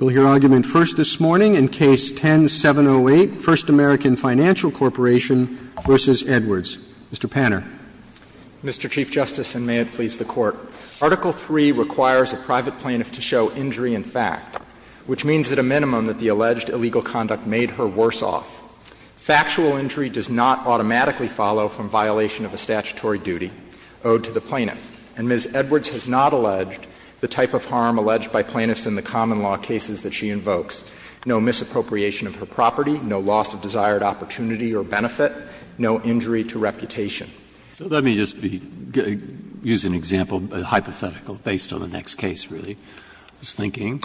Mr. Panner. Mr. Chief Justice, and may it please the Court, Article III requires a private plaintiff to show injury in fact, which means at a minimum that the alleged illegal conduct made her worse off. Factual injury does not automatically follow from violation of a statutory duty owed to the plaintiff, and Ms. Edwards has not alleged the type of harm alleged by plaintiffs in the common law cases that she invokes. No misappropriation of her property, no loss of desired opportunity or benefit, no injury to reputation. So let me just use an example, a hypothetical, based on the next case, really. I was thinking,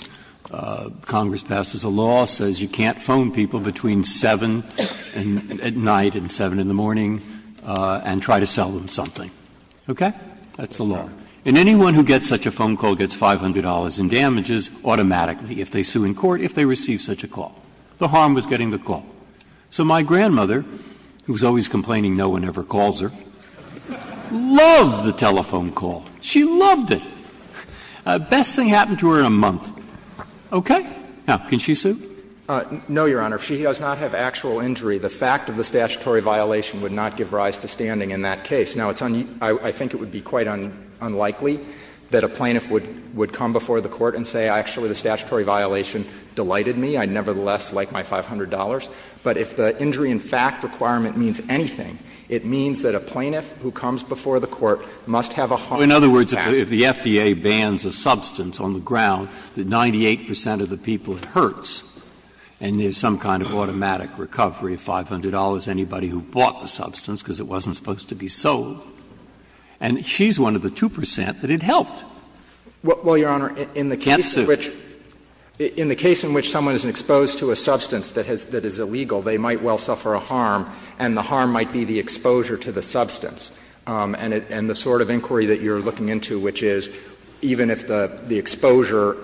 Congress passes a law, says you can't phone people between 7 at night and 7 in the morning and try to sell them something, okay? That's the law. And anyone who gets such a phone call gets $500 in damages automatically if they sue in court, if they receive such a call. The harm was getting the call. So my grandmother, who was always complaining no one ever calls her, loved the telephone call. She loved it. Best thing happened to her in a month. Okay? Now, can she sue? No, Your Honor. If she does not have actual injury, the fact of the statutory violation would not give rise to standing in that case. Now, I think it would be quite unlikely that a plaintiff would come before the court and say, actually, the statutory violation delighted me, I nevertheless like my $500. But if the injury in fact requirement means anything, it means that a plaintiff who comes before the court must have a harm in fact. Breyer, in other words, if the FDA bans a substance on the ground that 98 percent of the people it hurts, and there's some kind of automatic recovery of $500, anybody who bought the substance, because it wasn't supposed to be sold, and she's one of the 2 percent that it helped, can't sue. Well, Your Honor, in the case in which someone is exposed to a substance that is illegal, they might well suffer a harm, and the harm might be the exposure to the substance. And the sort of inquiry that you're looking into, which is even if the exposure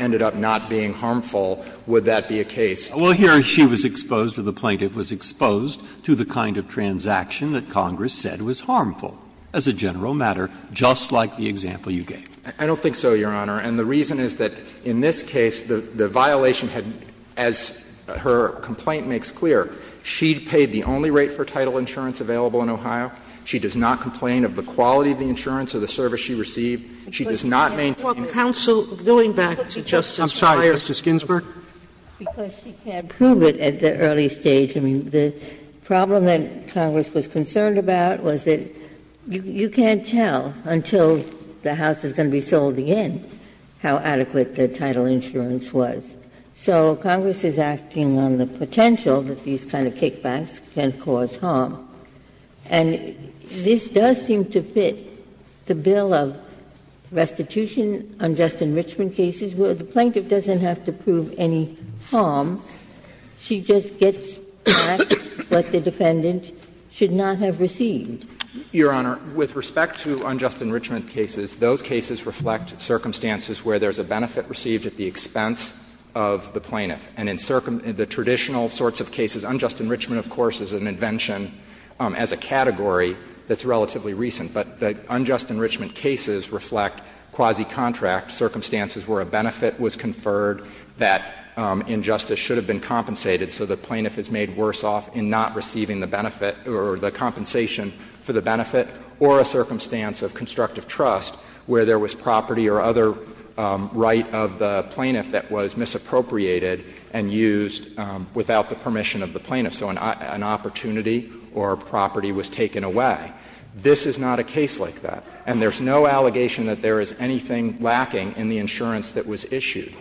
Well, here she was exposed, or the plaintiff was exposed, to the kind of transaction that Congress said was harmful, as a general matter, just like the example you gave. I don't think so, Your Honor, and the reason is that in this case, the violation had, as her complaint makes clear, she paid the only rate for title insurance available in Ohio. She does not complain of the quality of the insurance or the service she received. Sotomayor, going back to Justice Sotomayor's question. Sotomayor, because she can't prove it at the early stage, I mean, the problem that Congress was concerned about was that you can't tell until the house is going to be sold again how adequate the title insurance was. So Congress is acting on the potential that these kind of kickbacks can cause harm. And this does seem to fit the bill of restitution, unjust enrichment cases, where the plaintiff doesn't have to prove any harm. She just gets back what the defendant should not have received. Your Honor, with respect to unjust enrichment cases, those cases reflect circumstances where there's a benefit received at the expense of the plaintiff. And in the traditional sorts of cases, unjust enrichment, of course, is an invention as a category that's relatively recent. But the unjust enrichment cases reflect quasi-contract circumstances where a benefit was conferred that in justice should have been compensated so the plaintiff is made worse off in not receiving the benefit or the compensation for the benefit, or a circumstance of constructive trust where there was property or other right of the plaintiff that was misappropriated and used without the permission of the plaintiff. So an opportunity or a property was taken away. This is not a case like that. And there's no allegation that there is anything lacking in the insurance that was issued.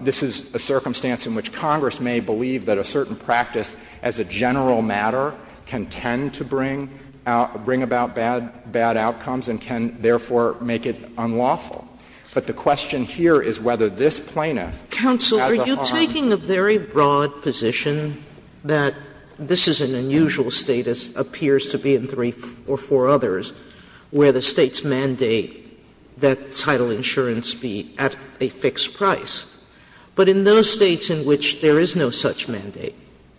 This is a circumstance in which Congress may believe that a certain practice as a general matter can tend to bring about bad outcomes and can, therefore, make it unlawful. But the question here is whether this plaintiff has a harm. Sotomayor, taking the very broad position that this is an unusual status, appears to be in three or four others, where the States mandate that title insurance be at a fixed price, but in those States in which there is no such mandate,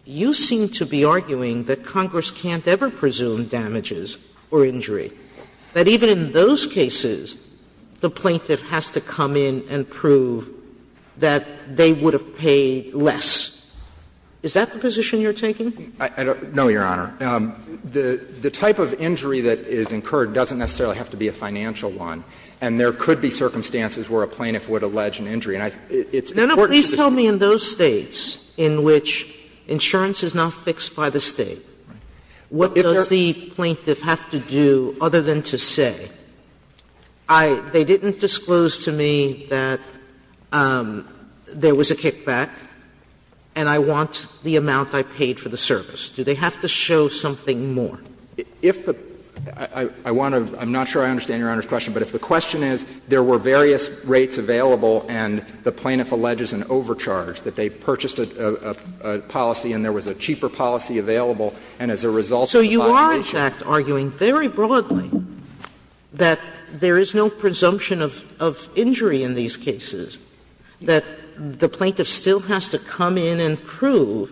you seem to be arguing that Congress can't ever presume damages or injury, that even in those States insurance is paid less. Is that the position you're taking? I don't know, Your Honor. The type of injury that is incurred doesn't necessarily have to be a financial one, and there could be circumstances where a plaintiff would allege an injury. And I think it's important to just say that this is an unusual status. Sotomayor, please tell me in those States in which insurance is not fixed by the State, what does the plaintiff have to do other than to say, they didn't disclose to me that there was a kickback, and I want the amount I paid for the service? Do they have to show something more? If the — I want to — I'm not sure I understand Your Honor's question, but if the question is there were various rates available and the plaintiff alleges an overcharge, that they purchased a policy and there was a cheaper policy available, and as a result of the population— Sotomayor, so you are, in fact, arguing very broadly that there is no presumption of injury in these cases, that the plaintiff still has to come in and prove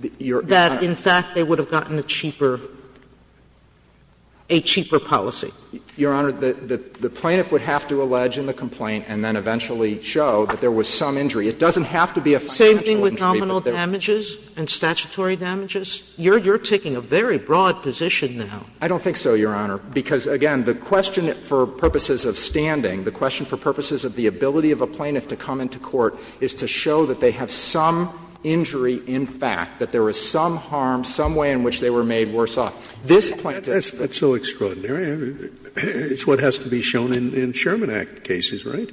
that, in fact, they would have gotten a cheaper — a cheaper policy? Your Honor, the plaintiff would have to allege in the complaint and then eventually show that there was some injury. It doesn't have to be a financial injury, but there— Same thing with nominal damages and statutory damages? You're taking a very broad position now. I don't think so, Your Honor. Because, again, the question for purposes of standing, the question for purposes of the ability of a plaintiff to come into court is to show that they have some injury in fact, that there was some harm, some way in which they were made worse off. This plaintiff— Scalia, that's so extraordinary. It's what has to be shown in Sherman Act cases, right?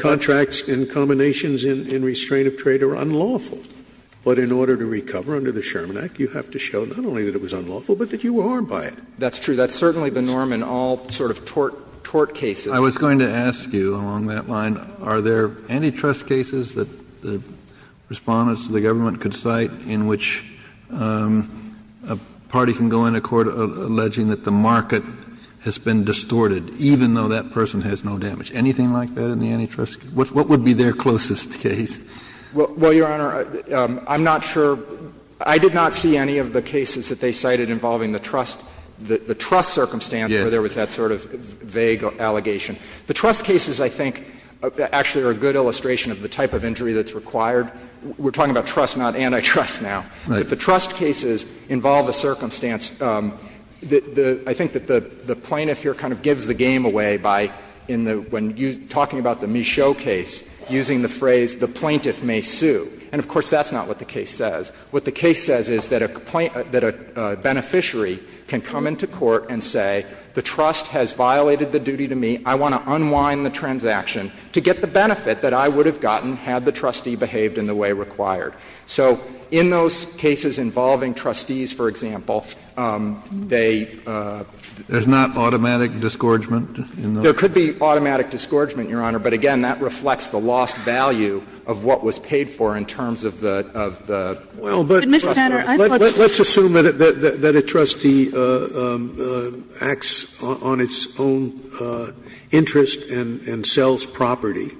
Contracts and combinations in restraint of trade are unlawful. But in order to recover under the Sherman Act, you have to show not only that it was unlawful, but that you were harmed by it. That's true. That's certainly the norm in all sort of tort cases. I was going to ask you along that line, are there antitrust cases that the Respondents to the government could cite in which a party can go into court alleging that the market has been distorted, even though that person has no damage? Anything like that in the antitrust case? What would be their closest case? Well, Your Honor, I'm not sure. I did not see any of the cases that they cited involving the trust, the trust circumstance where there was that sort of vague allegation. The trust cases, I think, actually are a good illustration of the type of injury that's required. We're talking about trust, not antitrust now. If the trust cases involve a circumstance, I think that the plaintiff here kind of gives the game away by, in the, when talking about the Michaud case, using the phrase the plaintiff may sue. And, of course, that's not what the case says. What the case says is that a beneficiary can come into court and say the trust has violated the duty to me, I want to unwind the transaction to get the benefit that I would have gotten had the trustee behaved in the way required. So in those cases involving trustees, for example, they do not. Kennedy, there's not automatic disgorgement in those cases? There could be automatic disgorgement, Your Honor, but again, that reflects the lost value of what was paid for in terms of the, of the trustee. Sotomayor, let's assume that a trustee acts on its own interest and, and sells property.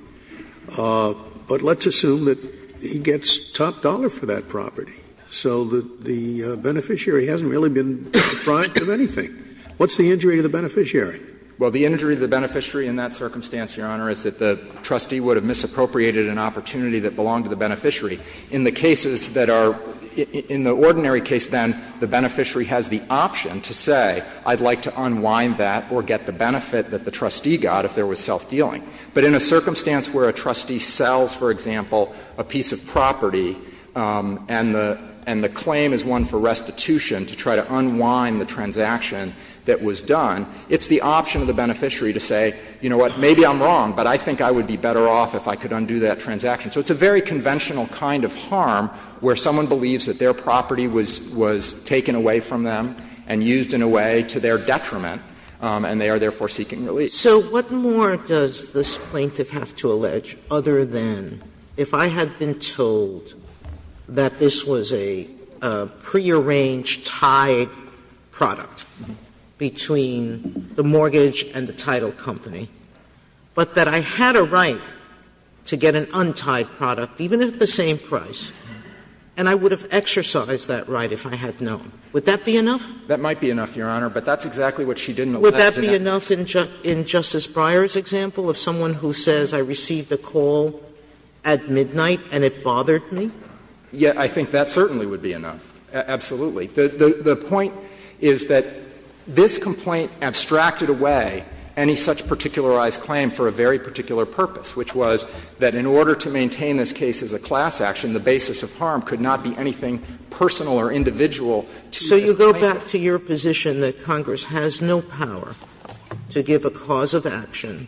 But let's assume that he gets top dollar for that property, so that the beneficiary hasn't really been deprived of anything. What's the injury to the beneficiary? Well, the injury to the beneficiary in that circumstance, Your Honor, is that the beneficiary has created an opportunity that belonged to the beneficiary. In the cases that are, in the ordinary case, then, the beneficiary has the option to say, I'd like to unwind that or get the benefit that the trustee got if there was self-dealing. But in a circumstance where a trustee sells, for example, a piece of property and the, and the claim is one for restitution to try to unwind the transaction that was done, it's the option of the beneficiary to say, you know what, maybe I'm So it's a very conventional kind of harm where someone believes that their property was, was taken away from them and used in a way to their detriment, and they are, therefore, seeking relief. Sotomayor, so what more does this plaintiff have to allege other than if I had been told that this was a prearranged, tied product between the mortgage and the title company, but that I had a right to get an untied product, even at the same price, and I would have exercised that right if I had known, would that be enough? That might be enough, Your Honor, but that's exactly what she didn't allege. Would that be enough in, in Justice Breyer's example of someone who says, I received a call at midnight and it bothered me? Yeah, I think that certainly would be enough, absolutely. The, the point is that this complaint abstracted away any such particularized claim for a very particular purpose, which was that in order to maintain this case as a class action, the basis of harm could not be anything personal or individual to this plaintiff. Sotomayor, so you go back to your position that Congress has no power to give a cause of action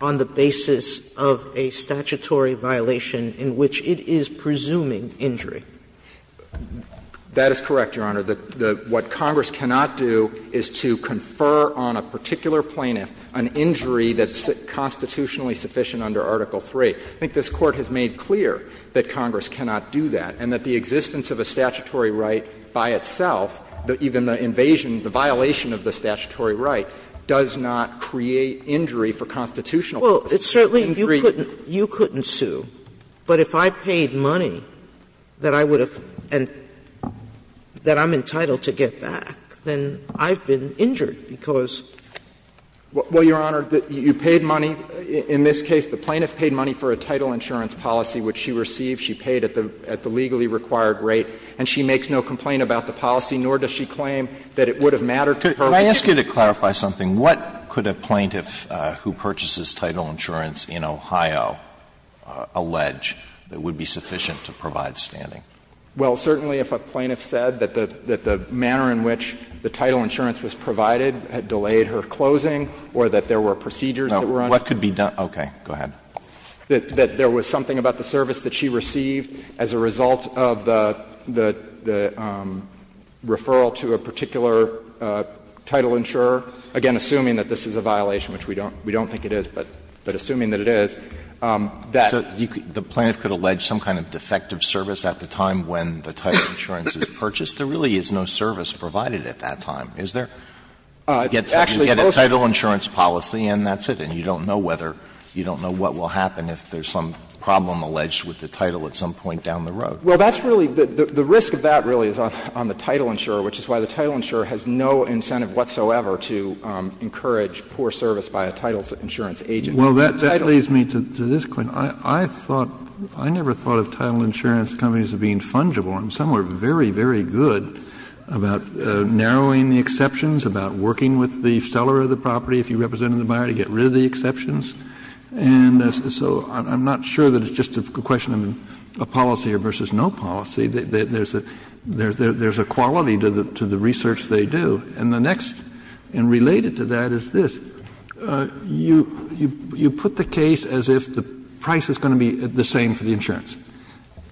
on the basis of a statutory violation in which it is presuming injury? That is correct, Your Honor. The, the, what Congress cannot do is to confer on a particular plaintiff an injury that's constitutionally sufficient under Article III. I think this Court has made clear that Congress cannot do that and that the existence of a statutory right by itself, even the invasion, the violation of the statutory right, does not create injury for constitutional purposes. Well, it certainly, you couldn't, you couldn't sue, but if I paid money that I would have, and that I'm entitled to get back, then I've been injured because. Well, Your Honor, you paid money, in this case, the plaintiff paid money for a title insurance policy which she received, she paid at the, at the legally required rate, and she makes no complaint about the policy, nor does she claim that it would have mattered to her. Alito, could I ask you to clarify something? What could a plaintiff who purchases title insurance in Ohio allege that would be sufficient to provide standing? Well, certainly, if a plaintiff said that the, that the manner in which the title insurance was provided had delayed her closing or that there were procedures that were undertaken. No, what could be done, okay, go ahead. That there was something about the service that she received as a result of the, the referral to a particular title insurer, again, assuming that this is a violation, which we don't, we don't think it is, but, but assuming that it is, that. So you could, the plaintiff could allege some kind of defective service at the time when the title insurance is purchased? There really is no service provided at that time, is there? Actually, most of it. You get a title insurance policy and that's it, and you don't know whether, you don't know what will happen if there's some problem alleged with the title at some point down the road. Well, that's really, the risk of that really is on the title insurer, which is why the title insurer has no incentive whatsoever to encourage poor service by a title insurance agent. Well, that leads me to this point. I thought, I never thought of title insurance companies as being fungible. And some were very, very good about narrowing the exceptions, about working with the seller of the property, if you represented the buyer, to get rid of the exceptions. And so I'm not sure that it's just a question of a policy versus no policy. There's a quality to the research they do. And the next, and related to that, is this. You put the case as if the price is going to be the same for the insurance.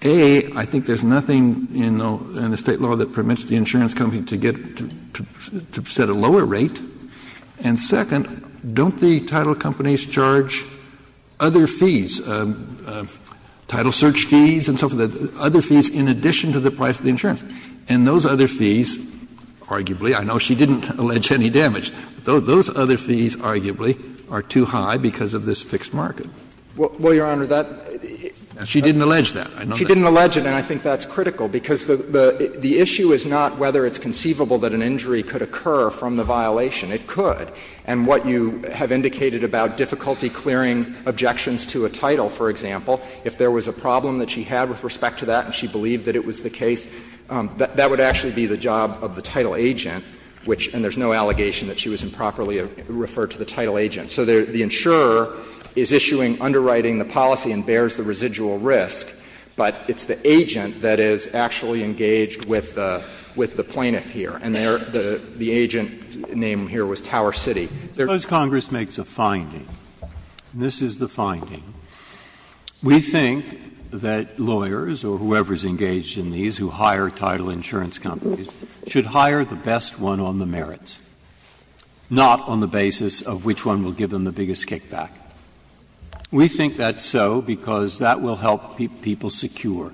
A, I think there's nothing in the State law that permits the insurance company to get, to set a lower rate. And second, don't the title companies charge other fees, title search fees and so forth, other fees in addition to the price of the insurance? And those other fees, arguably, I know she didn't allege any damage, but those other fees arguably are too high because of this fixed market. Well, Your Honor, that's not true. She didn't allege that. She didn't allege it, and I think that's critical, because the issue is not whether it's conceivable that an injury could occur from the violation. It could. And what you have indicated about difficulty clearing objections to a title, for example, if there was a problem that she had with respect to that and she believed that it was the case, that would actually be the job of the title agent, which — and there's no allegation that she was improperly referred to the title agent. So the insurer is issuing, underwriting the policy and bears the residual risk, but it's the agent that is actually engaged with the plaintiff here. And the agent's name here was Tower City. Breyer's Congress makes a finding, and this is the finding. We think that lawyers or whoever is engaged in these who hire title insurance companies should hire the best one on the merits, not on the basis of which one will give them the biggest kickback. We think that's so because that will help people secure.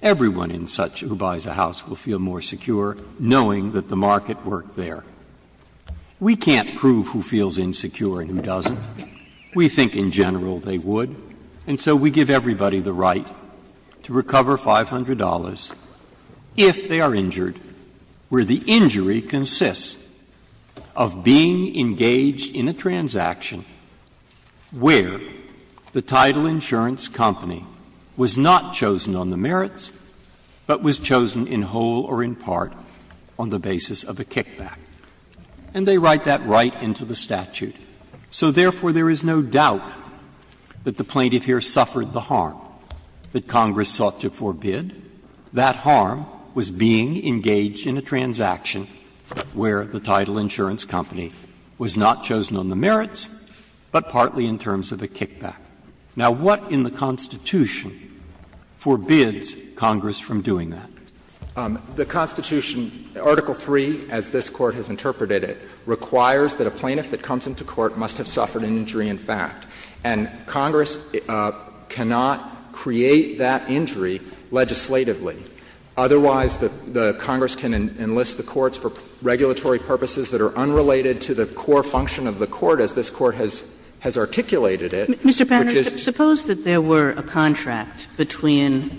Everyone in such who buys a house will feel more secure knowing that the market worked there. We can't prove who feels insecure and who doesn't. We think in general they would. And so we give everybody the right to recover $500 if they are injured, where the title insurance company was not chosen on the merits, but was chosen in whole or in part on the basis of a kickback. And they write that right into the statute. So therefore, there is no doubt that the plaintiff here suffered the harm that Congress sought to forbid. That harm was being engaged in a transaction where the title insurance company was not chosen on the merits, but partly in terms of a kickback. Now, what in the Constitution forbids Congress from doing that? The Constitution, Article III, as this Court has interpreted it, requires that a plaintiff that comes into court must have suffered an injury in fact. And Congress cannot create that injury legislatively. Otherwise, the Congress can enlist the courts for regulatory purposes that are unrelated to the core function of the court, as this Court has articulated it, which is to Sotomayor. Suppose that there were a contract between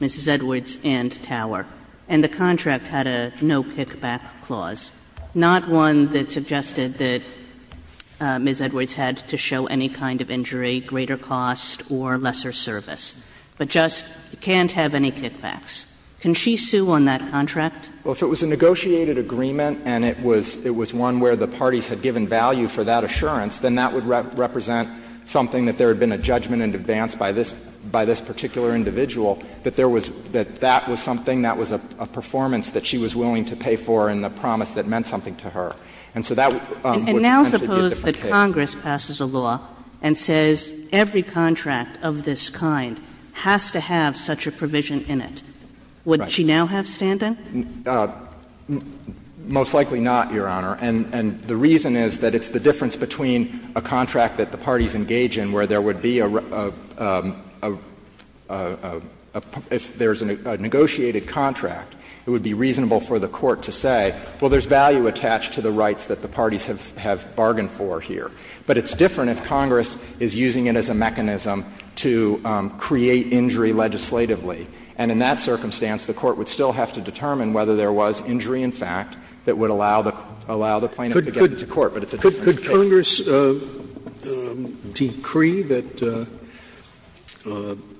Mrs. Edwards and Tower, and the contract had a no-kickback clause, not one that suggested that Ms. Edwards had to show any kind of injury, greater cost or lesser service, but just can't have any kickbacks. Can she sue on that contract? Well, if it was a negotiated agreement and it was one where the parties had given value for that assurance, then that would represent something that there had been a judgment in advance by this particular individual that there was — that that was something, that was a performance that she was willing to pay for and the promise that meant something to her. And so that would potentially be a different case. And now suppose that Congress passes a law and says every contract of this kind has to have such a provision in it. Right. Would she now have standing? Most likely not, Your Honor. And the reason is that it's the difference between a contract that the parties engage in where there would be a — if there's a negotiated contract, it would be reasonable for the Court to say, well, there's value attached to the rights that the parties have bargained for here. But it's different if Congress is using it as a mechanism to create injury legislatively. And in that circumstance, the Court would still have to determine whether there was injury in fact that would allow the plaintiff to get to court, but it's a different case. Scalia. Could Congress decree that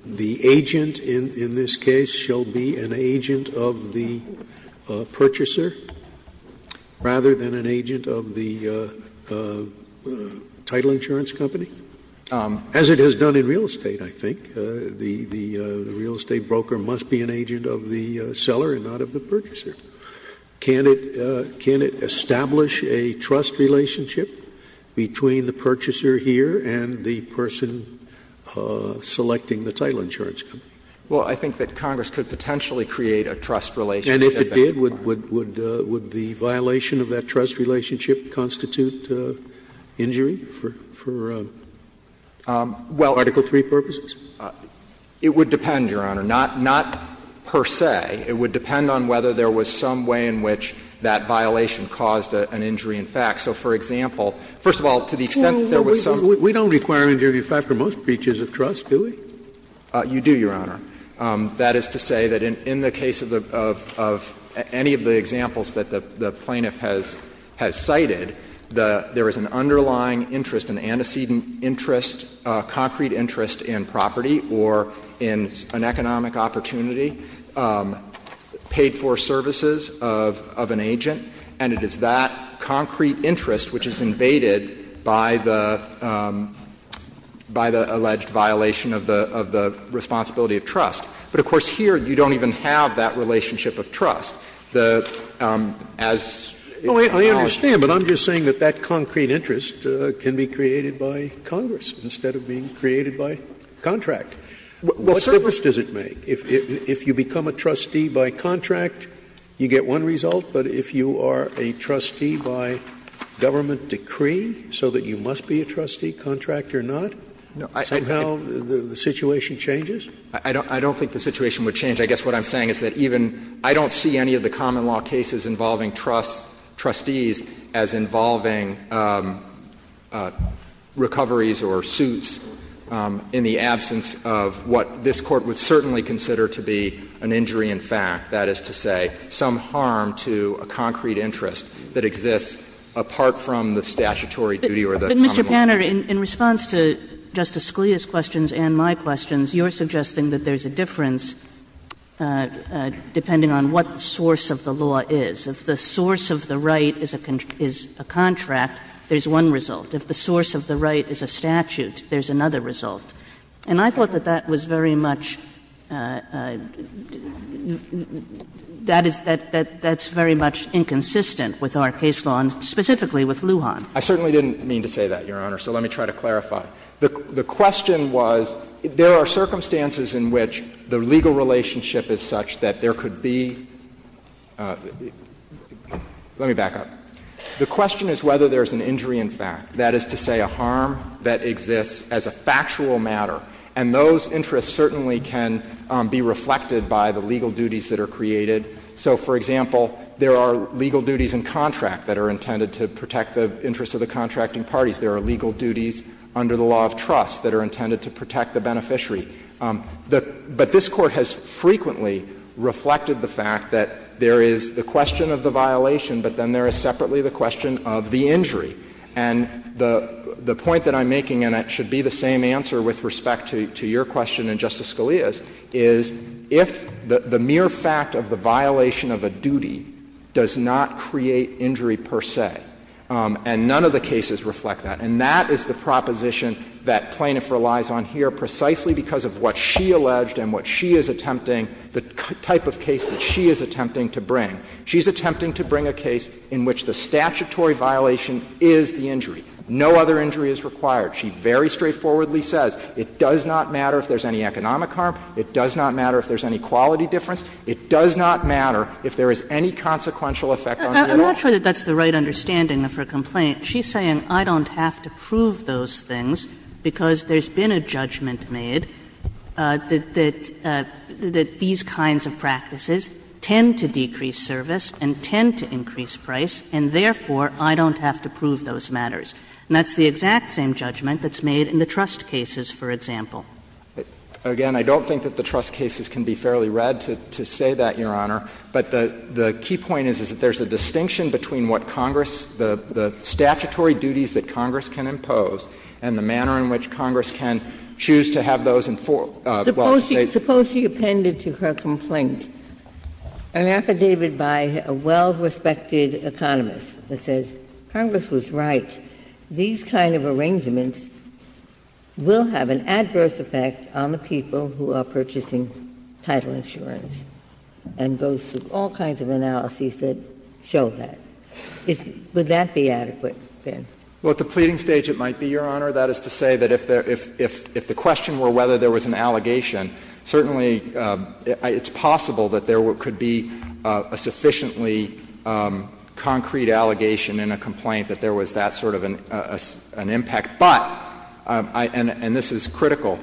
the agent in this case shall be an agent of the purchaser rather than an agent of the title insurance company? As it has done in real estate, I think. I think the real estate broker must be an agent of the seller and not of the purchaser. Can it establish a trust relationship between the purchaser here and the person selecting the title insurance company? Well, I think that Congress could potentially create a trust relationship at that point. And if it did, would the violation of that trust relationship constitute injury for Article III purposes? It would depend, Your Honor, not per se. It would depend on whether there was some way in which that violation caused an injury in fact. So, for example, first of all, to the extent that there was some. We don't require injury in fact for most breaches of trust, do we? You do, Your Honor. That is to say that in the case of any of the examples that the plaintiff has cited, there is an underlying interest, an antecedent interest, a concrete interest in property or in an economic opportunity, paid-for services of an agent, and it is that concrete interest which is invaded by the alleged violation of the responsibility of trust. But, of course, here you don't even have that relationship of trust. The as in the college case. Scalia, I understand, but I'm just saying that that concrete interest can be created by Congress instead of being created by contract. What difference does it make? If you become a trustee by contract, you get one result, but if you are a trustee by government decree so that you must be a trustee, contract or not, somehow the situation changes? I don't think the situation would change. I guess what I'm saying is that even — I don't see any of the common law cases involving trustees as involving recoveries or suits in the absence of what this Court would certainly consider to be an injury in fact, that is to say, some harm to a concrete interest that exists apart from the statutory duty or the common law. But, Mr. Panner, in response to Justice Scalia's questions and my questions, you are suggesting that there is a difference depending on what the source of the law is. If the source of the right is a contract, there is one result. If the source of the right is a statute, there is another result. And I thought that that was very much — that is — that's very much inconsistent with our case law and specifically with Lujan. I certainly didn't mean to say that, Your Honor, so let me try to clarify. The question was, there are circumstances in which the legal relationship is such that there could be — let me back up. The question is whether there is an injury in fact, that is to say, a harm that exists as a factual matter, and those interests certainly can be reflected by the legal duties that are created. So, for example, there are legal duties in contract that are intended to protect the interests of the contracting parties. There are legal duties under the law of trust that are intended to protect the beneficiary. But this Court has frequently reflected the fact that there is the question of the violation, but then there is separately the question of the injury. And the point that I'm making, and it should be the same answer with respect to your question and Justice Scalia's, is if the mere fact of the violation of a duty does not create injury per se, and none of the cases reflect that, and that is the proposition that Plaintiff relies on here precisely because of what she alleged and what she is attempting — the type of case that she is attempting to bring. She is attempting to bring a case in which the statutory violation is the injury. No other injury is required. She very straightforwardly says it does not matter if there is any economic harm, it does not matter if there is any quality difference, it does not matter if there is any consequential effect on the individual. Kagan I'm not sure that that's the right understanding of her complaint. She's saying I don't have to prove those things because there's been a judgment made that these kinds of practices tend to decrease service and tend to increase price, and therefore I don't have to prove those matters. And that's the exact same judgment that's made in the trust cases, for example. Again, I don't think that the trust cases can be fairly read to say that, Your Honor. But the key point is, is that there's a distinction between what Congress, the statutory duties that Congress can impose, and the manner in which Congress can choose to have those enforced. Well, they Ginsburg Suppose she appended to her complaint an affidavit by a well-respected economist that says Congress was right. These kind of arrangements will have an adverse effect on the people who are purchasing title insurance, and goes through all kinds of analyses that show that. Would that be adequate, Ben? Benjamin Well, at the pleading stage, it might be, Your Honor. That is to say that if the question were whether there was an allegation, certainly it's possible that there could be a sufficiently concrete allegation in a complaint that there was that sort of an impact, but, and this is critical,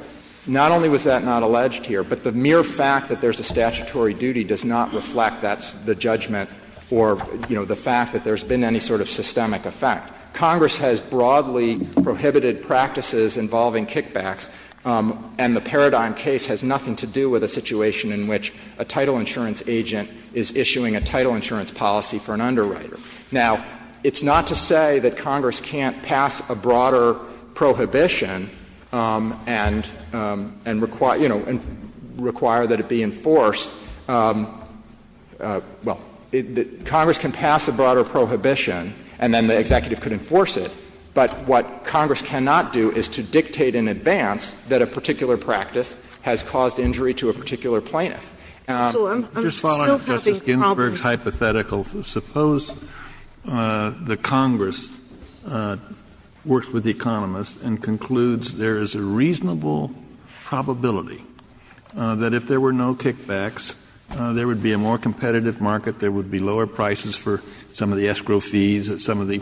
not only was that not alleged here, but the mere fact that there's a statutory duty does not reflect that's the judgment or, you know, the fact that there's been any sort of systemic effect. Congress has broadly prohibited practices involving kickbacks, and the Paradigm case has nothing to do with a situation in which a title insurance agent is issuing a title insurance policy for an underwriter. Now, it's not to say that Congress can't pass a broader prohibition and, you know, require that it be enforced. Well, Congress can pass a broader prohibition and then the executive could enforce it, but what Congress cannot do is to dictate in advance that a particular practice has caused injury to a particular plaintiff. Kennedy So I'm still having problems. Kennedy works with the economists and concludes there is a reasonable probability that if there were no kickbacks, there would be a more competitive market, there would be lower prices for some of the escrow fees, some of the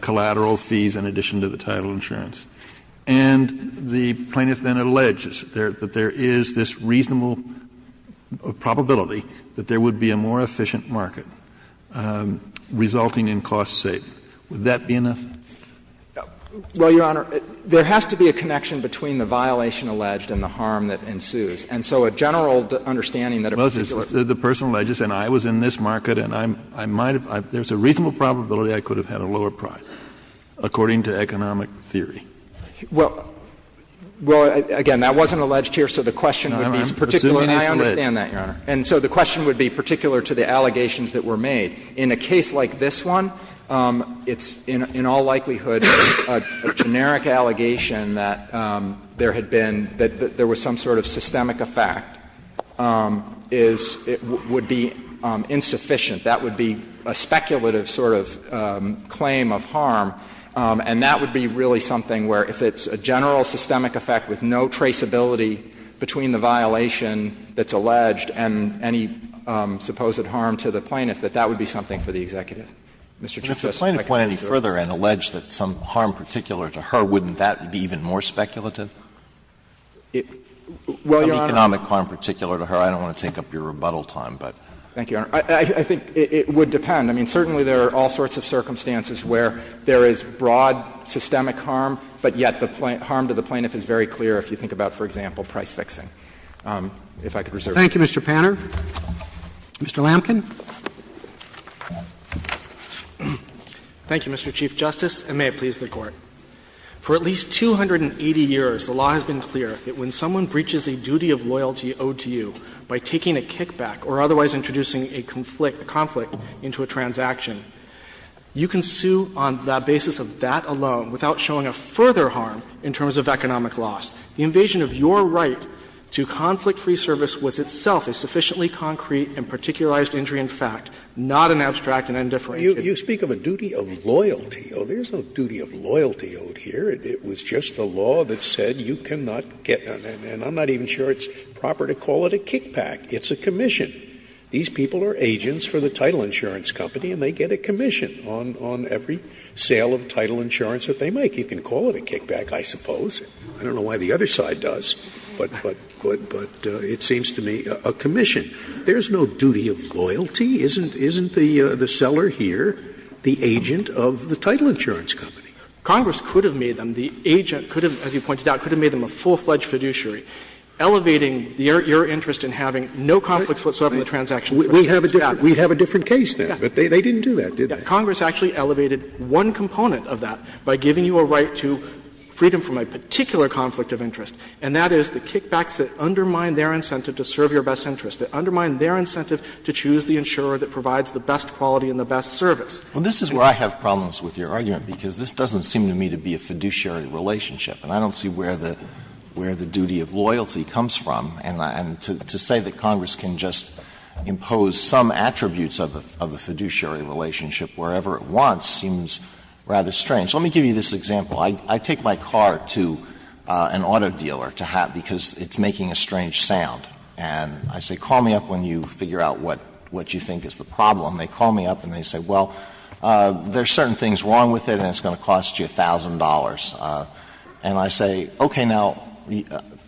collateral fees in addition to the title insurance, and the plaintiff then alleges that there is this reasonable probability that there would be a more efficient market resulting in cost savings. Would that be enough? Well, Your Honor, there has to be a connection between the violation alleged and the harm that ensues. And so a general understanding that a particular Well, the person alleges, and I was in this market, and I might have, there's a reasonable probability I could have had a lower price, according to economic theory. Well, again, that wasn't alleged here, so the question would be particularly I understand that, Your Honor. And so the question would be particular to the allegations that were made. In a case like this one, it's in all likelihood a generic allegation that there had been, that there was some sort of systemic effect, is it would be insufficient. That would be a speculative sort of claim of harm, and that would be really something where if it's a general systemic effect with no traceability between the violation that's alleged and any supposed harm to the plaintiff, that that would be something for the executive. Mr. Chief Justice, if I could answer your question. And if the plaintiff went any further and alleged that some harm particular to her, wouldn't that be even more speculative? Well, Your Honor. Some economic harm particular to her. I don't want to take up your rebuttal time, but. Thank you, Your Honor. I think it would depend. I mean, certainly there are all sorts of circumstances where there is broad systemic harm, but yet the harm to the plaintiff is very clear if you think about, for example, price fixing. If I could reserve my time. Thank you, Mr. Panner. Mr. Lamken. Thank you, Mr. Chief Justice, and may it please the Court. For at least 280 years, the law has been clear that when someone breaches a duty of loyalty owed to you by taking a kickback or otherwise introducing a conflict into a transaction, you can sue on the basis of that alone without showing a further harm in terms of economic loss. The invasion of your right to conflict-free service was itself a sufficiently concrete and particularized injury in fact, not an abstract and undifferentiated You speak of a duty of loyalty. Oh, there is no duty of loyalty owed here. It was just the law that said you cannot get and I'm not even sure it's proper to call it a kickback. It's a commission. These people are agents for the title insurance company and they get a commission on every sale of title insurance that they make. You can call it a kickback, I suppose. I don't know why the other side does, but it seems to me a commission. There is no duty of loyalty. Isn't the seller here the agent of the title insurance company? Congress could have made them the agent, could have, as you pointed out, could have made them a full-fledged fiduciary, elevating your interest in having no conflicts whatsoever in the transaction. We have a different case there, but they didn't do that, did they? Congress actually elevated one component of that by giving you a right to freedom from a particular conflict of interest, and that is the kickbacks that undermine their incentive to serve your best interest, that undermine their incentive to choose the insurer that provides the best quality and the best service. Well, this is where I have problems with your argument, because this doesn't seem to me to be a fiduciary relationship, and I don't see where the duty of loyalty comes from. And to say that Congress can just impose some attributes of the fiduciary relationship wherever it wants seems rather strange. Let me give you this example. I take my car to an auto dealer to have — because it's making a strange sound. And I say, call me up when you figure out what you think is the problem. They call me up and they say, well, there are certain things wrong with it and it's going to cost you $1,000. And I say, okay, now,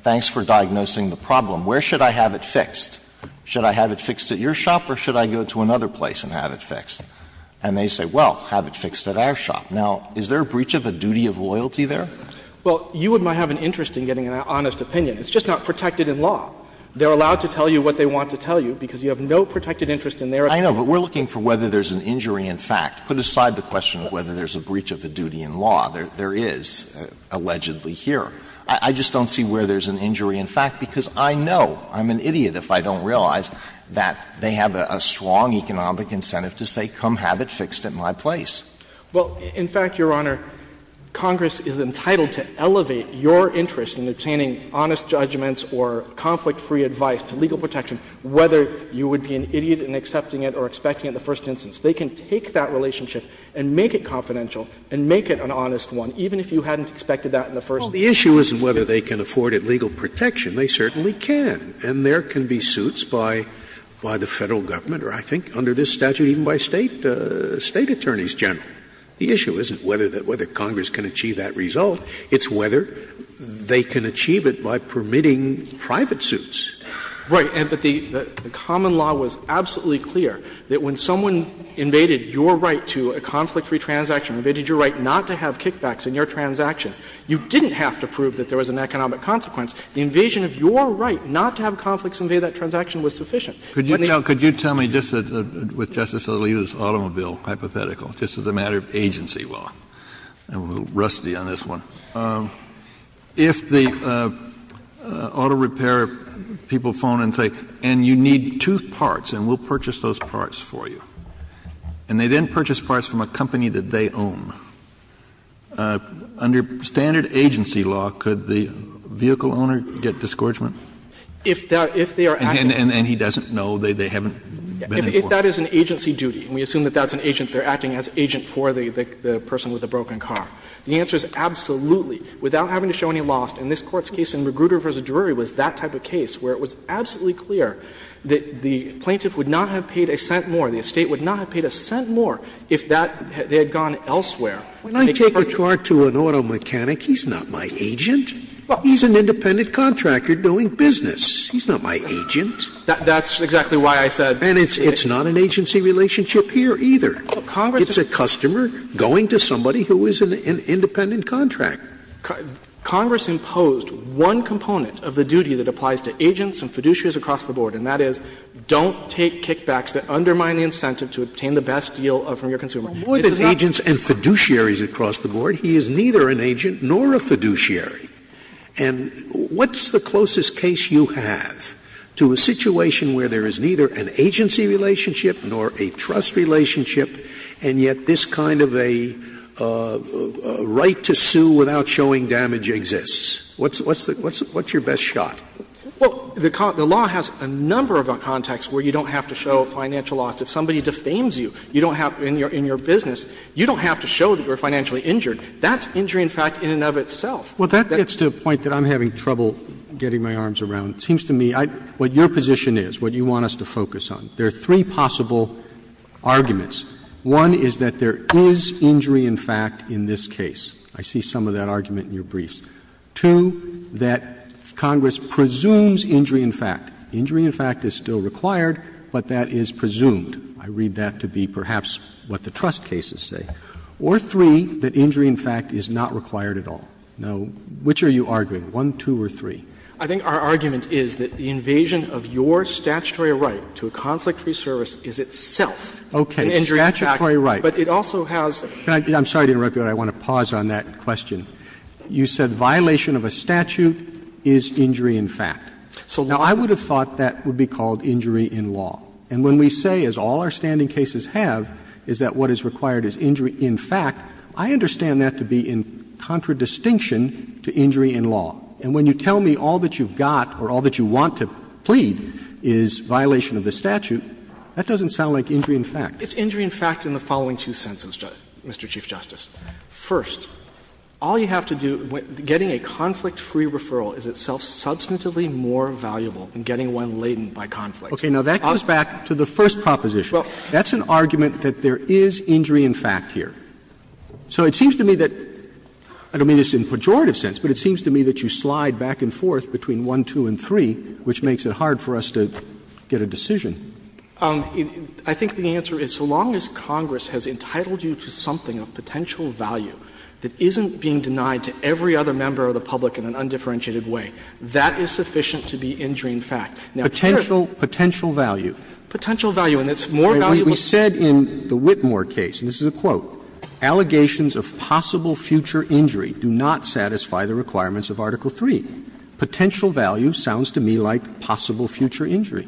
thanks for diagnosing the problem. Where should I have it fixed? Should I have it fixed at your shop or should I go to another place and have it fixed? And they say, well, have it fixed at our shop. Now, is there a breach of a duty of loyalty there? Well, you might have an interest in getting an honest opinion. It's just not protected in law. They're allowed to tell you what they want to tell you because you have no protected interest in their opinion. I know, but we're looking for whether there's an injury in fact. Put aside the question of whether there's a breach of a duty in law. There is, allegedly, here. I just don't see where there's an injury in fact, because I know, I'm an idiot if I don't realize, that they have a strong economic incentive to say, come have it fixed at my place. Well, in fact, Your Honor, Congress is entitled to elevate your interest in obtaining honest judgments or conflict-free advice to legal protection, whether you would be an idiot in accepting it or expecting it in the first instance. They can take that relationship and make it confidential and make it an honest one, even if you hadn't expected that in the first instance. Scalia, Well, the issue isn't whether they can afford it legal protection. They certainly can, and there can be suits by the Federal Government or, I think, under this statute, even by State attorneys general. The issue isn't whether Congress can achieve that result. It's whether they can achieve it by permitting private suits. Right. But the common law was absolutely clear that when someone invaded your right to a conflict-free transaction, invaded your right not to have kickbacks in your transaction, you didn't have to prove that there was an economic consequence. The invasion of your right not to have conflicts invade that transaction was sufficient. Kennedy, no, could you tell me, just with Justice Alito's automobile hypothetical, just as a matter of agency law? I'm a little rusty on this one. If the auto repair people phone and say, and you need two parts, and we'll purchase those parts for you, and they then purchase parts from a company that they own, under standard agency law, could the vehicle owner get disgorgement? If they are acting as an agent for the person with the broken car? The answer is absolutely, without having to show any loss. And this Court's case in Magruder v. Drury was that type of case, where it was absolutely clear that the plaintiff would not have paid a cent more, the estate would not have paid a cent more, if that they had gone elsewhere. Scalia, when I take a car to an auto mechanic, he's not my agent. He's an independent contractor doing business. He's not my agent. That's exactly why I said it's not an agency relationship here either. It's a customer going to somebody who is an independent contractor. Congress imposed one component of the duty that applies to agents and fiduciaries across the board, and that is don't take kickbacks that undermine the incentive to obtain the best deal from your consumer. More than agents and fiduciaries across the board, he is neither an agent nor a fiduciary. And what's the closest case you have to a situation where there is neither an agency relationship nor a trust relationship, and yet this kind of a right to sue without showing damage exists? What's your best shot? Well, the law has a number of contexts where you don't have to show financial loss. If somebody defames you, you don't have in your business, you don't have to show that you're financially injured. That's injury in fact in and of itself. Well, that gets to a point that I'm having trouble getting my arms around. There are three possible arguments. One is that there is injury in fact in this case. I see some of that argument in your briefs. Two, that Congress presumes injury in fact. Injury in fact is still required, but that is presumed. I read that to be perhaps what the trust cases say. Or three, that injury in fact is not required at all. Now, which are you arguing, 1, 2, or 3? I think our argument is that the invasion of your statutory right to a conflict free service is itself an injury in fact. Roberts. Okay. Statutory right. But it also has a case. I'm sorry to interrupt you, but I want to pause on that question. You said violation of a statute is injury in fact. Now, I would have thought that would be called injury in law. And when we say, as all our standing cases have, is that what is required is injury in fact, I understand that to be in contradistinction to injury in law. And when you tell me all that you've got or all that you want to plead is violation of the statute, that doesn't sound like injury in fact. It's injury in fact in the following two senses, Mr. Chief Justice. First, all you have to do, getting a conflict-free referral is itself substantively more valuable than getting one laden by conflict. Okay. Now, that goes back to the first proposition. That's an argument that there is injury in fact here. So it seems to me that — I don't mean this in pejorative sense, but it seems to me that you slide back and forth between 1, 2, and 3, which makes it hard for us to get a decision. I think the answer is, so long as Congress has entitled you to something of potential value that isn't being denied to every other member of the public in an undifferentiated way, that is sufficient to be injury in fact. Now, here's the thing. Potential value. Potential value. And it's more valuable. We said in the Whitmore case, and this is a quote, Allegations of possible future injury do not satisfy the requirements of Article III. Potential value sounds to me like possible future injury.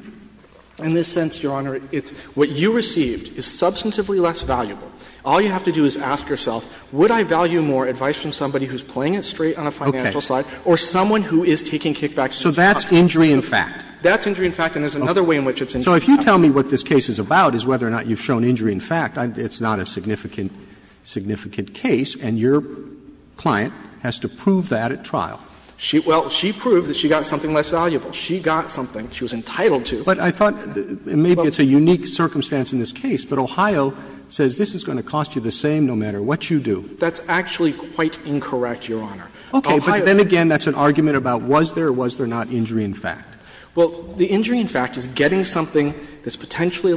In this sense, Your Honor, it's — what you received is substantively less valuable. All you have to do is ask yourself, would I value more advice from somebody who's playing it straight on a financial side or someone who is taking kickbacks from the charge? So that's injury in fact. That's injury in fact, and there's another way in which it's injury in fact. So if you tell me what this case is about is whether or not you've shown injury in fact. It's not a significant case, and your client has to prove that at trial. Well, she proved that she got something less valuable. She got something she was entitled to. But I thought maybe it's a unique circumstance in this case, but Ohio says this is going to cost you the same no matter what you do. That's actually quite incorrect, Your Honor. Okay. But then again, that's an argument about was there or was there not injury in fact. Well, the injury in fact is getting something that's potentially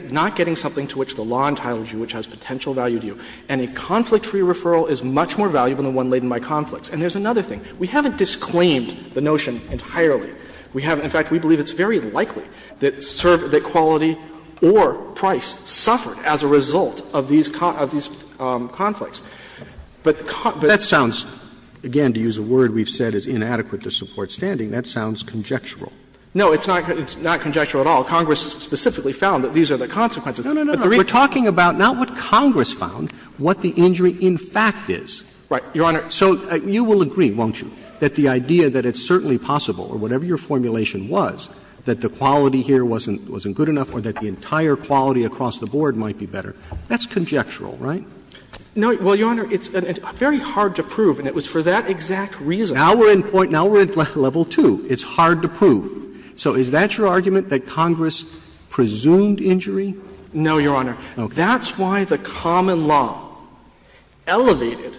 — not getting something to which the law entitles you, which has potential value to you. And a conflict-free referral is much more valuable than one laden by conflicts. And there's another thing. We haven't disclaimed the notion entirely. We haven't. In fact, we believe it's very likely that quality or price suffered as a result of these conflicts. But the conflicts— But that sounds, again, to use a word we've said is inadequate to support standing, that sounds conjectural. No, it's not conjectural at all. Congress specifically found that these are the consequences. No, no, no, no. We're talking about not what Congress found, what the injury in fact is. Right, Your Honor. So you will agree, won't you, that the idea that it's certainly possible, or whatever your formulation was, that the quality here wasn't good enough or that the entire quality across the board might be better, that's conjectural, right? No, well, Your Honor, it's very hard to prove, and it was for that exact reason. Now we're in point — now we're at level 2. It's hard to prove. So is that your argument, that Congress presumed injury? No, Your Honor. That's why the common law elevated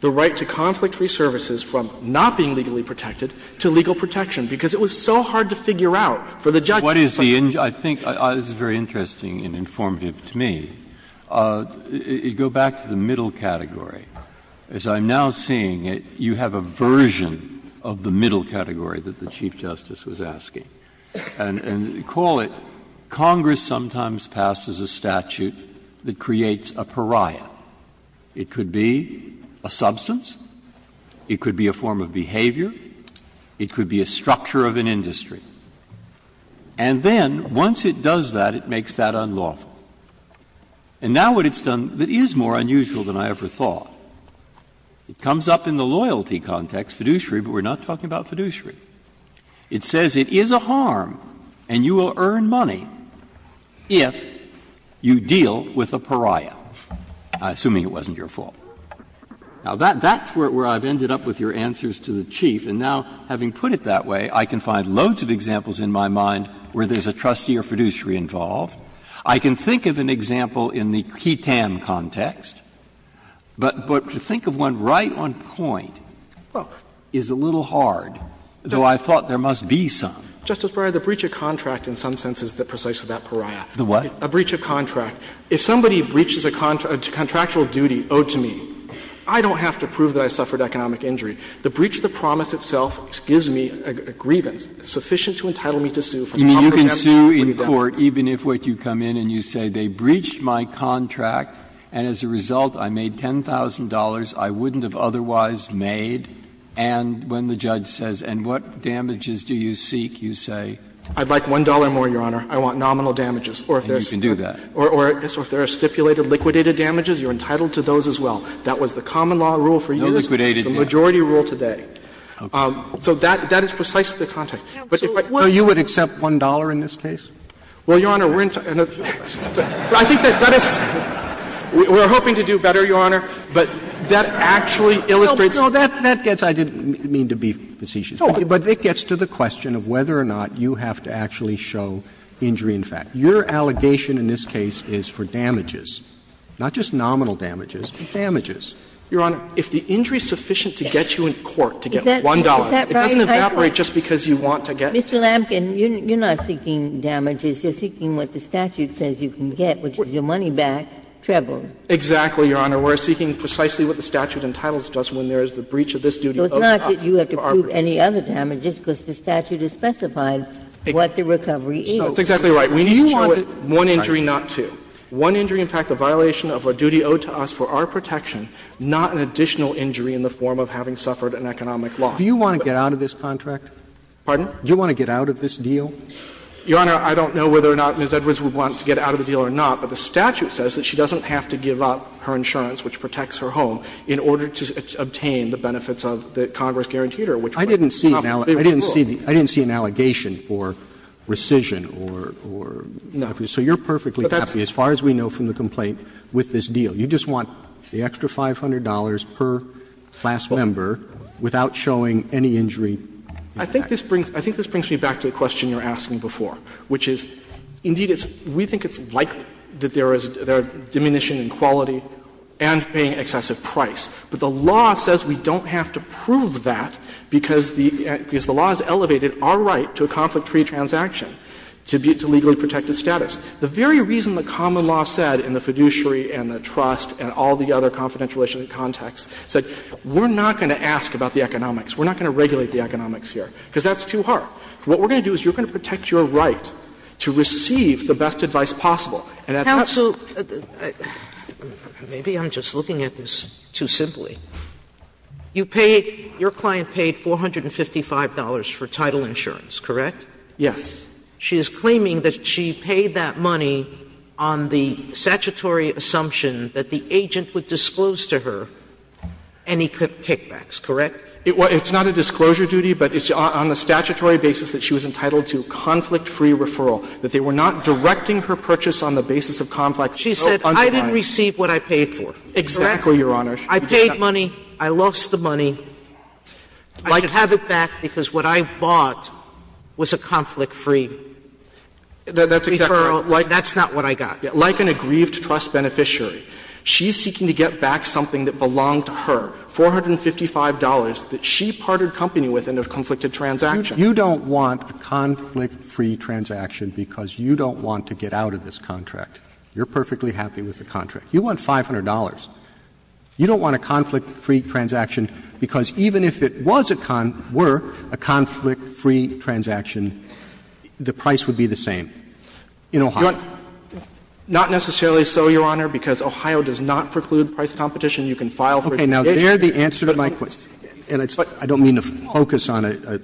the right to conflict-free services from not being legally protected to legal protection, because it was so hard to figure out for the judge. What is the — I think this is very interesting and informative to me. Go back to the middle category. As I'm now seeing it, you have a version of the middle category that the Chief Justice was asking. And you call it, Congress sometimes passes a statute that creates a pariah. It could be a substance, it could be a form of behavior, it could be a structure of an industry. And then, once it does that, it makes that unlawful. And now what it's done that is more unusual than I ever thought, it comes up in the loyalty context, fiduciary, but we're not talking about fiduciary. It says it is a harm and you will earn money if you deal with a pariah, assuming it wasn't your fault. Now, that's where I've ended up with your answers to the Chief. And now, having put it that way, I can find loads of examples in my mind where there's a trustee or fiduciary involved. I can think of an example in the ketam context, but to think of one right on point is a little hard, though I thought there must be some. Justice Breyer, the breach of contract in some sense is precisely that pariah. The what? A breach of contract. If somebody breaches a contractual duty owed to me, I don't have to prove that I suffered economic injury. The breach of the promise itself gives me a grievance sufficient to entitle me to sue for the Congress' absence of a grievance. You can sue in court even if what you come in and you say they breached my contract and as a result I made $10,000 I wouldn't have otherwise made, and when the judge says, and what damages do you seek, you say? I'd like $1 more, Your Honor. I want nominal damages, or if there's stipulated liquidated damages, you're entitled to those as well. That was the common law rule for years. It's the majority rule today. So that is precisely the context. But if I were to say, well, you would accept $1 in this case? Well, Your Honor, we're entitled to that. But I think that that is we're hoping to do better, Your Honor, but that actually illustrates. Roberts, I didn't mean to be facetious. But it gets to the question of whether or not you have to actually show injury in fact. Your allegation in this case is for damages, not just nominal damages, but damages. Your Honor, if the injury is sufficient to get you in court to get $1, it doesn't evaporate just because you want to get it. Ginsburg, Mr. Lampkin, you're not seeking damages. You're seeking what the statute says you can get, which is your money back, treble. Exactly, Your Honor. We're seeking precisely what the statute entitles us when there is the breach of this duty owed to us. So it's not that you have to prove any other damages, because the statute has specified what the recovery is. That's exactly right. We need to show one injury, not two. One injury, in fact, a violation of a duty owed to us for our protection, not an additional injury in the form of having suffered an economic loss. Do you want to get out of this contract? Pardon? Do you want to get out of this deal? Your Honor, I don't know whether or not Ms. Edwards would want to get out of the deal or not, but the statute says that she doesn't have to give up her insurance, which protects her home, in order to obtain the benefits of the Congress-guaranteed her, which was not the favorable rule. I didn't see an allegation or rescission or nothing. So you're perfectly happy, as far as we know from the complaint, with this deal. You just want the extra $500 per class member without showing any injury. I think this brings me back to the question you were asking before, which is, indeed, we think it's likely that there is a diminution in quality and paying excessive price. But the law says we don't have to prove that because the law has elevated our right to a conflict-free transaction, to legally protected status. The very reason the common law said in the fiduciary and the trust and all the other confidential relationship contexts said we're not going to ask about the economics, we're not going to regulate the economics here, because that's too hard. What we're going to do is you're going to protect your right to receive the best advice possible. And that's not the case. Sotomayor, maybe I'm just looking at this too simply. You paid — your client paid $455 for title insurance, correct? Yes. She is claiming that she paid that money on the statutory assumption that the agent would disclose to her any kickbacks, correct? It's not a disclosure duty, but it's on the statutory basis that she was entitled to conflict-free referral, that they were not directing her purchase on the basis of conflict. She said, I didn't receive what I paid for. Correct? Exactly, Your Honor. I paid money. I lost the money. I should have it back because what I bought was a conflict-free referral. That's not what I got. Like an aggrieved trust beneficiary, she's seeking to get back something that belonged to her, $455 that she parted company with in a conflicted transaction. You don't want a conflict-free transaction because you don't want to get out of this contract. You're perfectly happy with the contract. You want $500. You don't want a conflict-free transaction because even if it was a — were a conflict-free transaction, the price would be the same in Ohio. Not necessarily so, Your Honor, because Ohio does not preclude price competition. You can file for a condition. Okay. Now, there the answer to my question, and I don't mean to focus on a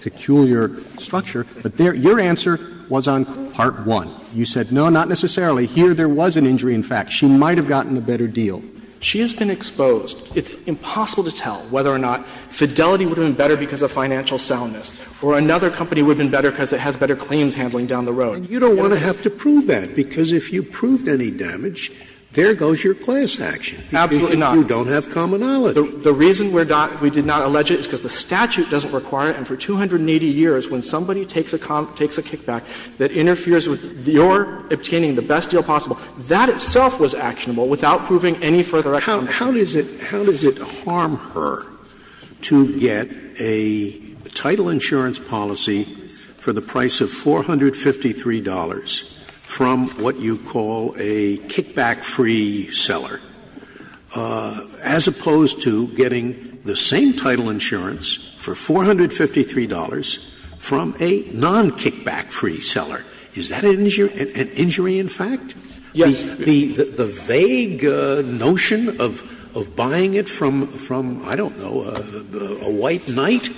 peculiar structure, but there your answer was on part one. You said, no, not necessarily. Here there was an injury in fact. She might have gotten a better deal. She has been exposed. It's impossible to tell whether or not Fidelity would have been better because of financial soundness or another company would have been better because it has better claims handling down the road. And you don't want to have to prove that, because if you proved any damage, there goes your class action. Absolutely not. You don't have commonality. The reason we're not — we did not allege it is because the statute doesn't require it, and for 280 years, when somebody takes a kickback that interferes with your obtaining the best deal possible, that itself was actionable without proving any further explanation. How does it harm her to get a title insurance policy for the price of $453 from what you call a kickback-free seller, as opposed to getting the same title insurance for $453 from a non-kickback-free seller? Is that an injury in fact? Yes. The vague notion of buying it from, I don't know, a white knight,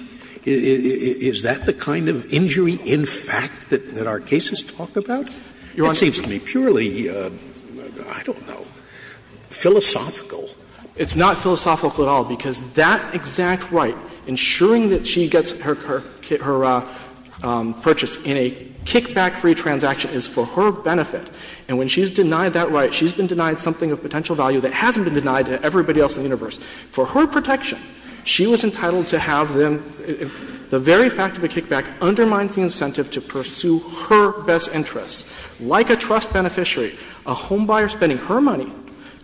is that the kind of injury in fact that our cases talk about? Your Honor. That seems to me purely, I don't know, philosophical. It's not philosophical at all, because that exact right, ensuring that she gets her purchase in a kickback-free transaction is for her benefit. And when she's denied that right, she's been denied something of potential value that hasn't been denied to everybody else in the universe. For her protection, she was entitled to have them — the very fact of a kickback undermines the incentive to pursue her best interests. Like a trust beneficiary, a homebuyer spending her money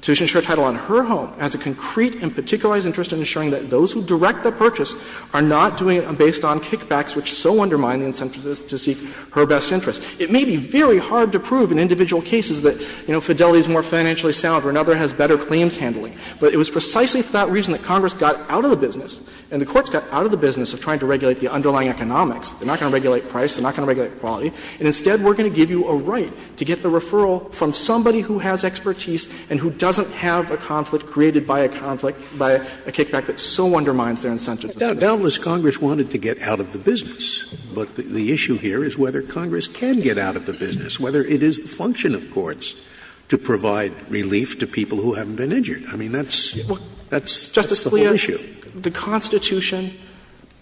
to insure title on her home has a concrete and particularized interest in ensuring that those who direct the purchase are not doing it based on kickbacks, which so undermine the incentive to seek her best interests. It may be very hard to prove in individual cases that, you know, Fidelity is more financially sound or another has better claims handling, but it was precisely for that reason that Congress got out of the business and the courts got out of the business. They're not going to regulate price. They're not going to regulate quality. And instead, we're going to give you a right to get the referral from somebody who has expertise and who doesn't have a conflict created by a conflict, by a kickback that so undermines their incentive to seek her best interests. Scalia. But the issue here is whether Congress can get out of the business, whether it is the function of courts to provide relief to people who haven't been injured. I mean, that's the whole issue. The Constitution,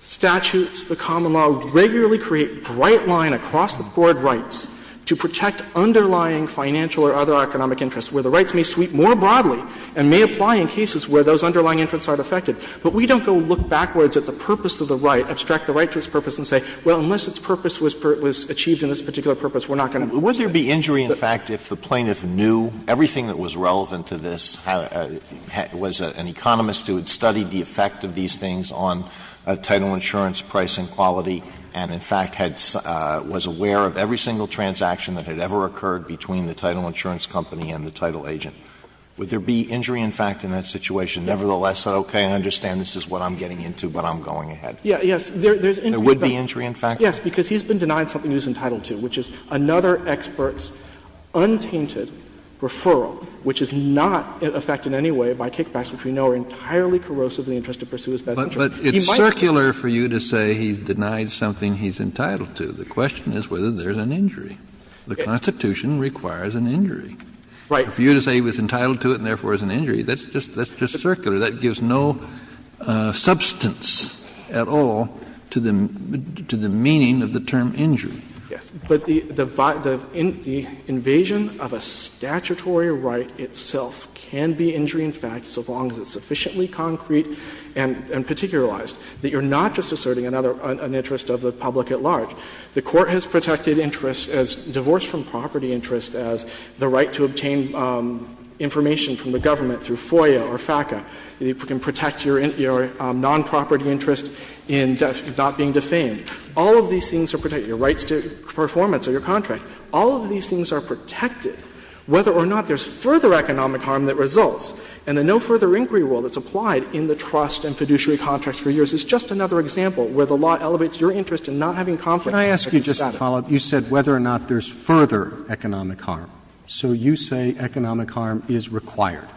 statutes, the common law regularly create bright line across the board rights to protect underlying financial or other economic interests, where the rights may sweep more broadly and may apply in cases where those underlying interests aren't affected. But we don't go look backwards at the purpose of the right, abstract the right to its purpose and say, well, unless its purpose was achieved in this particular purpose, we're not going to. Alito Would there be injury, in fact, if the plaintiff knew everything that was relevant to this, was an economist who had studied the effect of these things on title insurance price and quality, and, in fact, was aware of every single transaction that had ever occurred between the title insurance company and the title agent, would there be injury, in fact, in that situation, nevertheless said, okay, I understand this is what I'm getting into, but I'm going ahead? There would be injury, in fact? Yes, because he's been denied something he's entitled to, which is another expert's view, which is not affected in any way by kickbacks, which we know are entirely corrosive in the interest to pursue his best interest. He might But it's circular for you to say he's denied something he's entitled to. The question is whether there's an injury. The Constitution requires an injury. Right. For you to say he was entitled to it and, therefore, is an injury, that's just circular. That gives no substance at all to the meaning of the term injury. Yes. But the invasion of a statutory right itself can be injury, in fact, so long as it's sufficiently concrete and particularized, that you're not just asserting another interest of the public at large. The Court has protected interest as divorce from property interest as the right to obtain information from the government through FOIA or FACA. It can protect your nonproperty interest in not being defamed. All of these things are protected, your rights to performance or your contract. All of these things are protected whether or not there's further economic harm that results. And the no further inquiry rule that's applied in the trust and fiduciary contracts for years is just another example where the law elevates your interest in not having conflict of interest at all. Can I ask you just to follow up? You said whether or not there's further economic harm. So you say economic harm is required.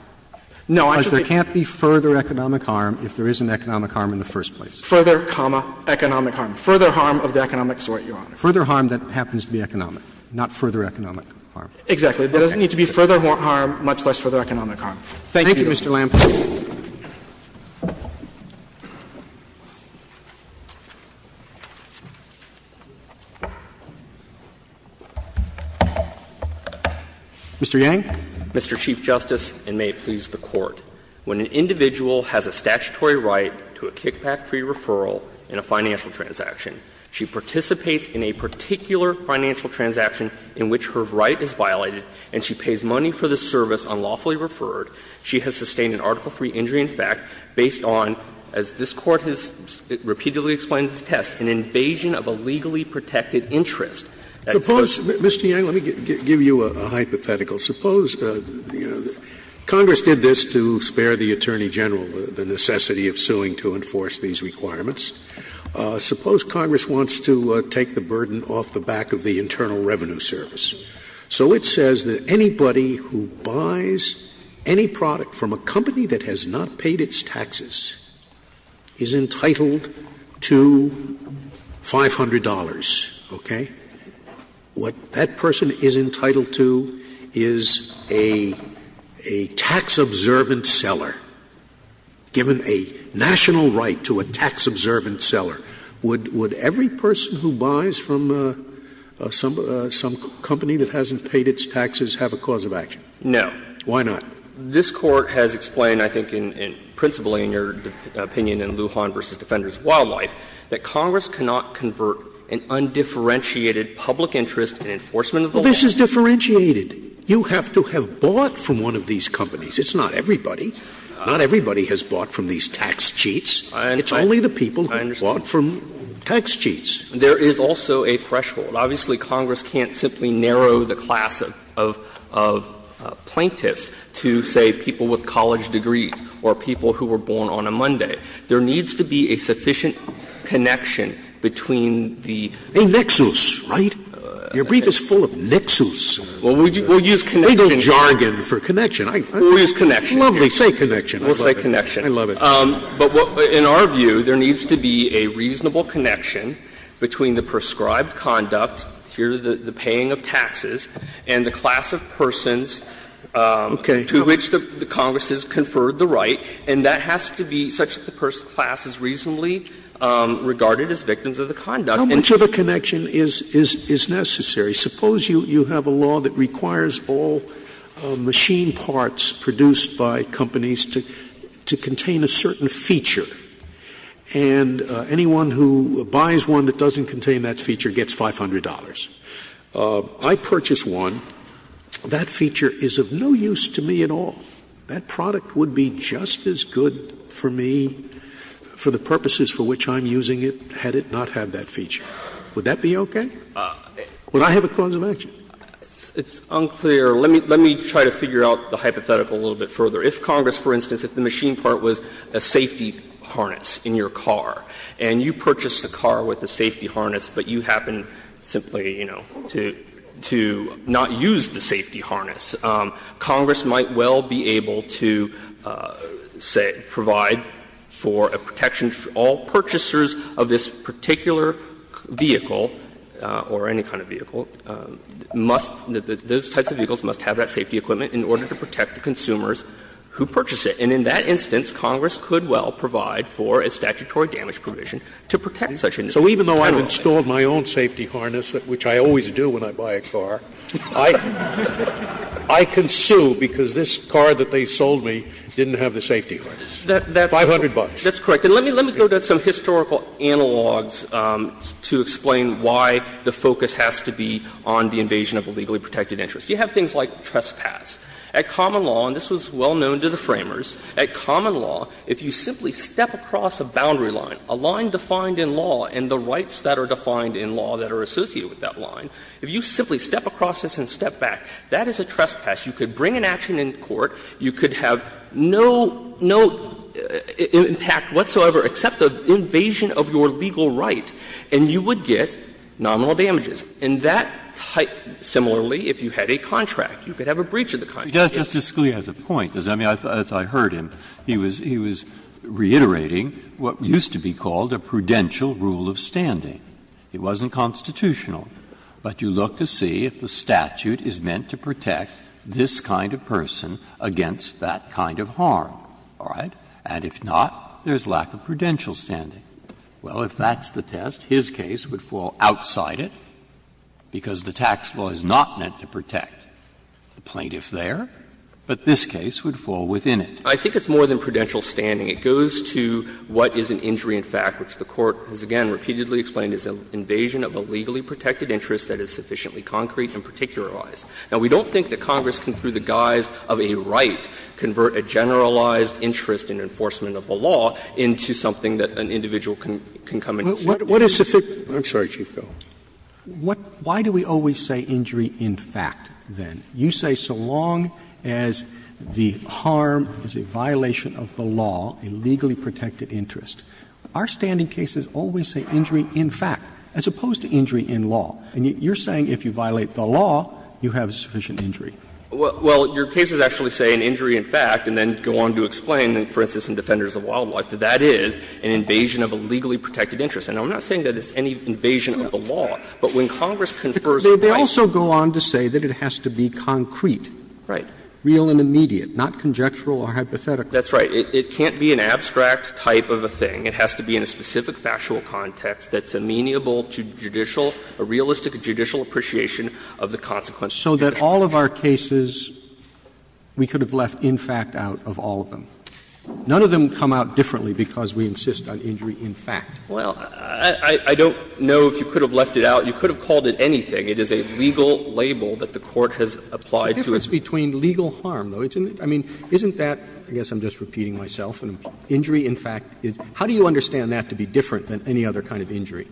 No, I'm just saying Because there can't be further economic harm if there isn't economic harm in the first place. Further, comma, economic harm. Further harm of the economic sort, Your Honor. Further harm that happens to be economic, not further economic harm. Exactly. There doesn't need to be further harm, much less further economic harm. Thank you. Thank you, Mr. Lampert. Mr. Yang. Mr. Chief Justice, and may it please the Court. When an individual has a statutory right to a kickback-free referral in a financial transaction, she participates in a particular financial transaction in which her right is violated, and she pays money for the service unlawfully referred, she has sustained an Article III injury in fact based on, as this Court has repeatedly explained in this test, an invasion of a legally protected interest. Suppose, Mr. Yang, let me give you a hypothetical. Suppose, you know, Congress did this to spare the Attorney General the necessity of suing to enforce these requirements. Suppose Congress wants to take the burden off the back of the Internal Revenue Service. So it says that anybody who buys any product from a company that has not paid its taxes is entitled to $500, okay? What that person is entitled to is a tax-observant seller, given a national right to a tax-observant seller. Would every person who buys from some company that hasn't paid its taxes have a cause of action? No. Why not? This Court has explained, I think principally in your opinion in Lujan v. Defenders Wildlife, that Congress cannot convert an undifferentiated public interest in enforcement of the law. Scalia Well, this is differentiated. You have to have bought from one of these companies. It's not everybody. Not everybody has bought from these tax cheats. It's only the people who bought from tax cheats. Yang I understand. There is also a threshold. Obviously, Congress can't simply narrow the class of plaintiffs to, say, people with college degrees or people who were born on a Monday. There needs to be a sufficient connection between the nexus, right? Your brief is full of nexus. We'll use connection. Scalia Legal jargon for connection. Yang We'll use connection. Scalia Lovely. Say connection. Yang We'll say connection. Scalia I love it. Yang But in our view, there needs to be a reasonable connection between the prescribed conduct, here the paying of taxes, and the class of persons to which the Congress has conferred the right. And that has to be such that the person's class is reasonably regarded as victims of the conduct. Scalia How much of a connection is necessary? Suppose you have a law that requires all machine parts produced by companies to contain a certain feature, and anyone who buys one that doesn't contain that feature gets $500. I purchase one. That feature is of no use to me at all. That product would be just as good for me for the purposes for which I'm using it had it not had that feature. Would that be okay? Would I have a cause of action? Yang It's unclear. Let me try to figure out the hypothetical a little bit further. If Congress, for instance, if the machine part was a safety harness in your car, to not use the safety harness, Congress might well be able to, say, provide for a protection for all purchasers of this particular vehicle, or any kind of vehicle, must — those types of vehicles must have that safety equipment in order to protect the consumers who purchase it. And in that instance, Congress could well provide for a statutory damage provision to protect such an individual. So even though I've installed my own safety harness, which I always do when I buy a car, I can sue because this car that they sold me didn't have the safety harness. $500. Yang That's correct. And let me go to some historical analogs to explain why the focus has to be on the invasion of a legally protected interest. You have things like trespass. At common law, and this was well known to the Framers, at common law, if you simply step across a boundary line, a line defined in law and the rights that are defined in law that are associated with that line, if you simply step across this and step back, that is a trespass. You could bring an action in court, you could have no — no impact whatsoever except the invasion of your legal right, and you would get nominal damages. And that type — similarly, if you had a contract, you could have a breach of the contract. Breyer Justice Scalia has a point. I mean, as I heard him, he was — he was reiterating what used to be called a prudential rule of standing. It wasn't constitutional. But you look to see if the statute is meant to protect this kind of person against that kind of harm, all right? And if not, there's lack of prudential standing. Well, if that's the test, his case would fall outside it because the tax law is not meant to protect the plaintiff there, but this case would fall within it. I think it's more than prudential standing. It goes to what is an injury in fact, which the Court has again repeatedly explained as an invasion of a legally protected interest that is sufficiently concrete and particularized. Now, we don't think that Congress can, through the guise of a right, convert a generalized interest in enforcement of the law into something that an individual can come and say. Scalia, what is sufficient — I'm sorry, Chief Pelley. Why do we always say injury in fact, then? You say so long as the harm is a violation of the law, a legally protected interest. Our standing cases always say injury in fact, as opposed to injury in law. And you're saying if you violate the law, you have a sufficient injury. Well, your cases actually say an injury in fact, and then go on to explain, for instance, in Defenders of Wildlife, that that is an invasion of a legally protected interest. And I'm not saying that it's any invasion of the law, but when Congress confers a right to do so. They also go on to say that it has to be concrete. Right. Real and immediate, not conjectural or hypothetical. That's right. It can't be an abstract type of a thing. It has to be in a specific factual context that's amenable to judicial, a realistic judicial appreciation of the consequences of the judgment. So that all of our cases, we could have left in fact out of all of them. None of them come out differently because we insist on injury in fact. Well, I don't know if you could have left it out. You could have called it anything. It is a legal label that the Court has applied to it. It's the difference between legal harm, though. I mean, isn't that, I guess I'm just repeating myself, an injury in fact. How do you understand that to be different than any other kind of injury?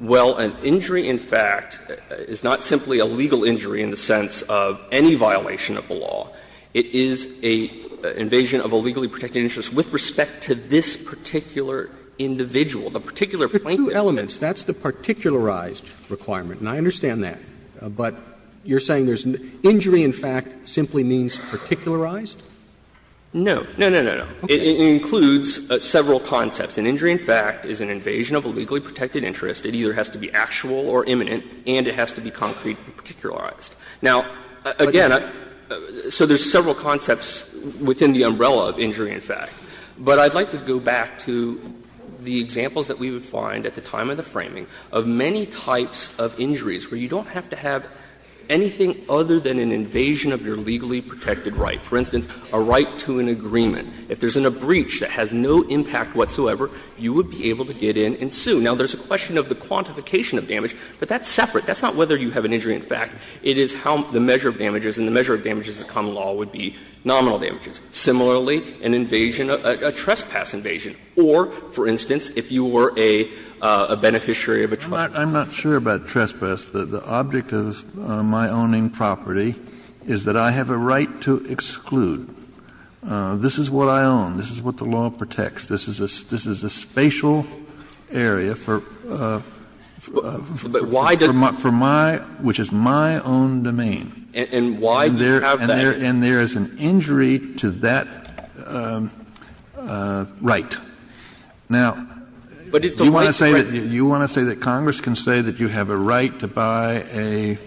Well, an injury in fact is not simply a legal injury in the sense of any violation of the law. It is an invasion of a legally protected interest with respect to this particular individual, the particular plaintiff. But there are two elements. That's the particularized requirement, and I understand that. But you're saying injury in fact simply means particularized? No. No, no, no, no. It includes several concepts. An injury in fact is an invasion of a legally protected interest. It either has to be actual or imminent, and it has to be concrete and particularized. Now, again, so there's several concepts within the umbrella of injury in fact. But I'd like to go back to the examples that we would find at the time of the framing of many types of injuries where you don't have to have anything other than an invasion of your legally protected right. For instance, a right to an agreement. If there's a breach that has no impact whatsoever, you would be able to get in and sue. Now, there's a question of the quantification of damage, but that's separate. That's not whether you have an injury in fact. It is how the measure of damage is, and the measure of damage as a common law would be nominal damages. Similarly, an invasion, a trespass invasion, or, for instance, if you were a beneficiary of a trust. I'm not sure about trespass. The object of my owning property is that I have a right to exclude. This is what I own. This is what the law protects. This is a spatial area for my, which is my property. This is my own domain. And there is an injury to that right. Now, you want to say that Congress can say that you have a right to buy a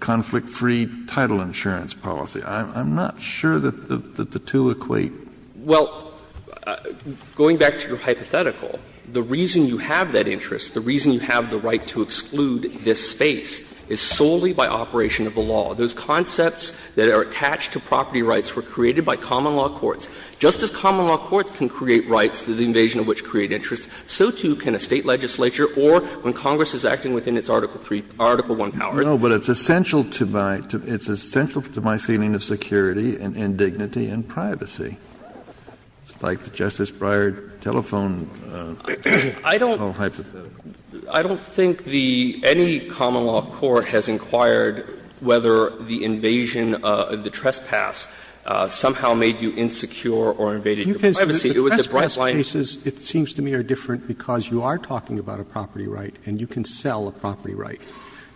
conflict-free title insurance policy. I'm not sure that the two equate. Well, going back to your hypothetical, the reason you have that interest, the reason you have the right to exclude this space is solely by operation of the law. Those concepts that are attached to property rights were created by common law courts. Just as common law courts can create rights through the invasion of which create interest, so too can a State legislature or when Congress is acting within its Article I powers. Kennedy. No, but it's essential to my feeling of security and dignity and privacy. It's like the Justice Breyer telephone hypothetical. I don't think the any common law court has inquired whether the invasion, the trespass somehow made you insecure or invaded your privacy. It was a bright line. The trespass cases, it seems to me, are different because you are talking about a property right and you can sell a property right.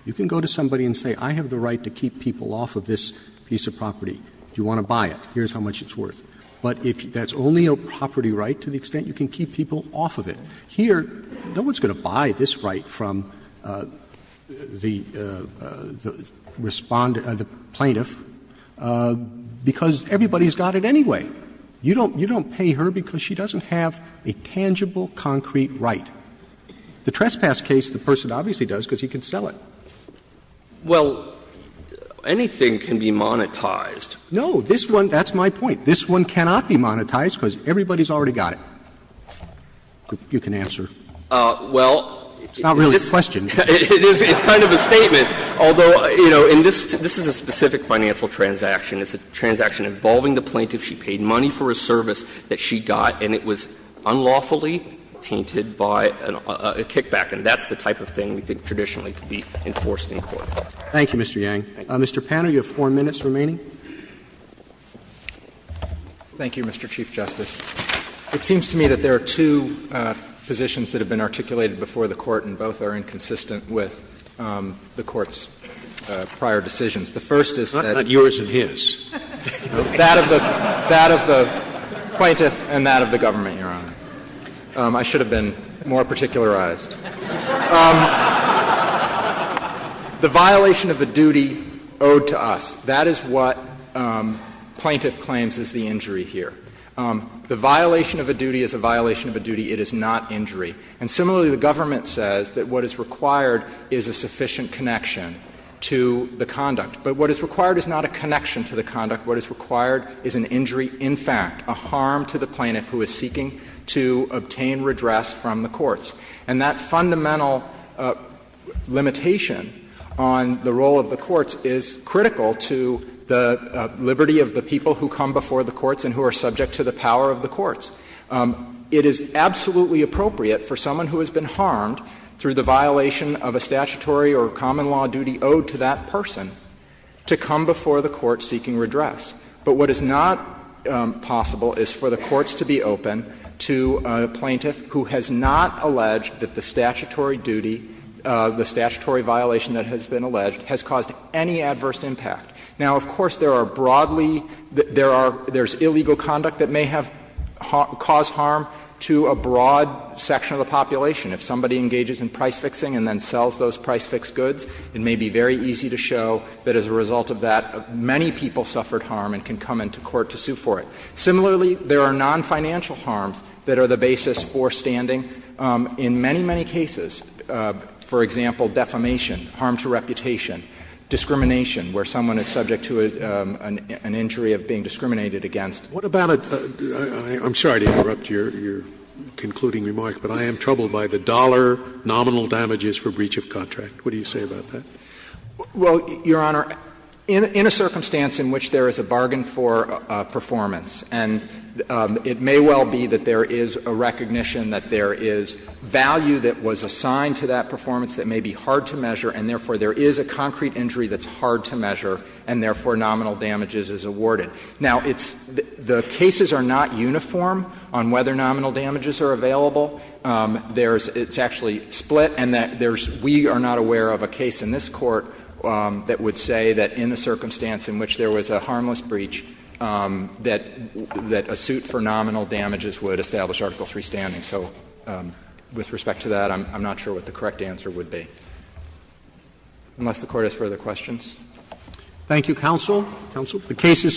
You can go to somebody and say, I have the right to keep people off of this piece of property. Do you want to buy it? Here's how much it's worth. But if that's only a property right to the extent you can keep people off of it, here you go. No one's going to buy this right from the respondent, the plaintiff, because everybody has got it anyway. You don't pay her because she doesn't have a tangible, concrete right. The trespass case, the person obviously does because he can sell it. Well, anything can be monetized. No, this one, that's my point. This one cannot be monetized because everybody's already got it. You can answer. Well, it's kind of a statement, although, you know, and this is a specific financial transaction. It's a transaction involving the plaintiff. She paid money for a service that she got, and it was unlawfully tainted by a kickback. And that's the type of thing we think traditionally could be enforced in court. Roberts. Thank you, Mr. Yang. Mr. Panner, you have 4 minutes remaining. Thank you, Mr. Chief Justice. It seems to me that there are two positions that have been articulated before the Court and both are inconsistent with the Court's prior decisions. The first is that. Not yours and his. That of the plaintiff and that of the government, Your Honor. I should have been more particularized. The violation of a duty owed to us, that is what plaintiff claims is the injury here. The violation of a duty is a violation of a duty. It is not injury. And similarly, the government says that what is required is a sufficient connection to the conduct. But what is required is not a connection to the conduct. What is required is an injury, in fact, a harm to the plaintiff who is seeking to obtain redress from the courts. And that fundamental limitation on the role of the courts is critical to the liberty of the people who come before the courts and who are subject to the power of the courts. It is absolutely appropriate for someone who has been harmed through the violation of a statutory or common law duty owed to that person to come before the court seeking redress. But what is not possible is for the courts to be open to a plaintiff who has not alleged that the statutory duty, the statutory violation that has been alleged, has caused any adverse impact. Now, of course, there are broadly, there are, there is illegal conduct that may have caused harm to a broad section of the population. If somebody engages in price fixing and then sells those price fixed goods, it may be very easy to show that as a result of that, many people suffered harm and can come into court to sue for it. Similarly, there are nonfinancial harms that are the basis for standing in many, many cases. For example, defamation, harm to reputation, discrimination, where someone is subject to an injury of being discriminated against. Scalia, what about a — I'm sorry to interrupt your concluding remark, but I am troubled by the dollar nominal damages for breach of contract. What do you say about that? Well, Your Honor, in a circumstance in which there is a bargain for performance and it may well be that there is a recognition that there is value that was assigned to that performance that may be hard to measure, and therefore there is a concrete injury that's hard to measure, and therefore nominal damages is awarded. Now, it's — the cases are not uniform on whether nominal damages are available. There's — it's actually split, and there's — we are not aware of a case in this Court that would say that in a circumstance in which there was a harmless breach, that a suit for nominal damages would establish Article III standing. So with respect to that, I'm not sure what the correct answer would be, unless the Court has further questions. Thank you, counsel. Counsel. The case is submitted.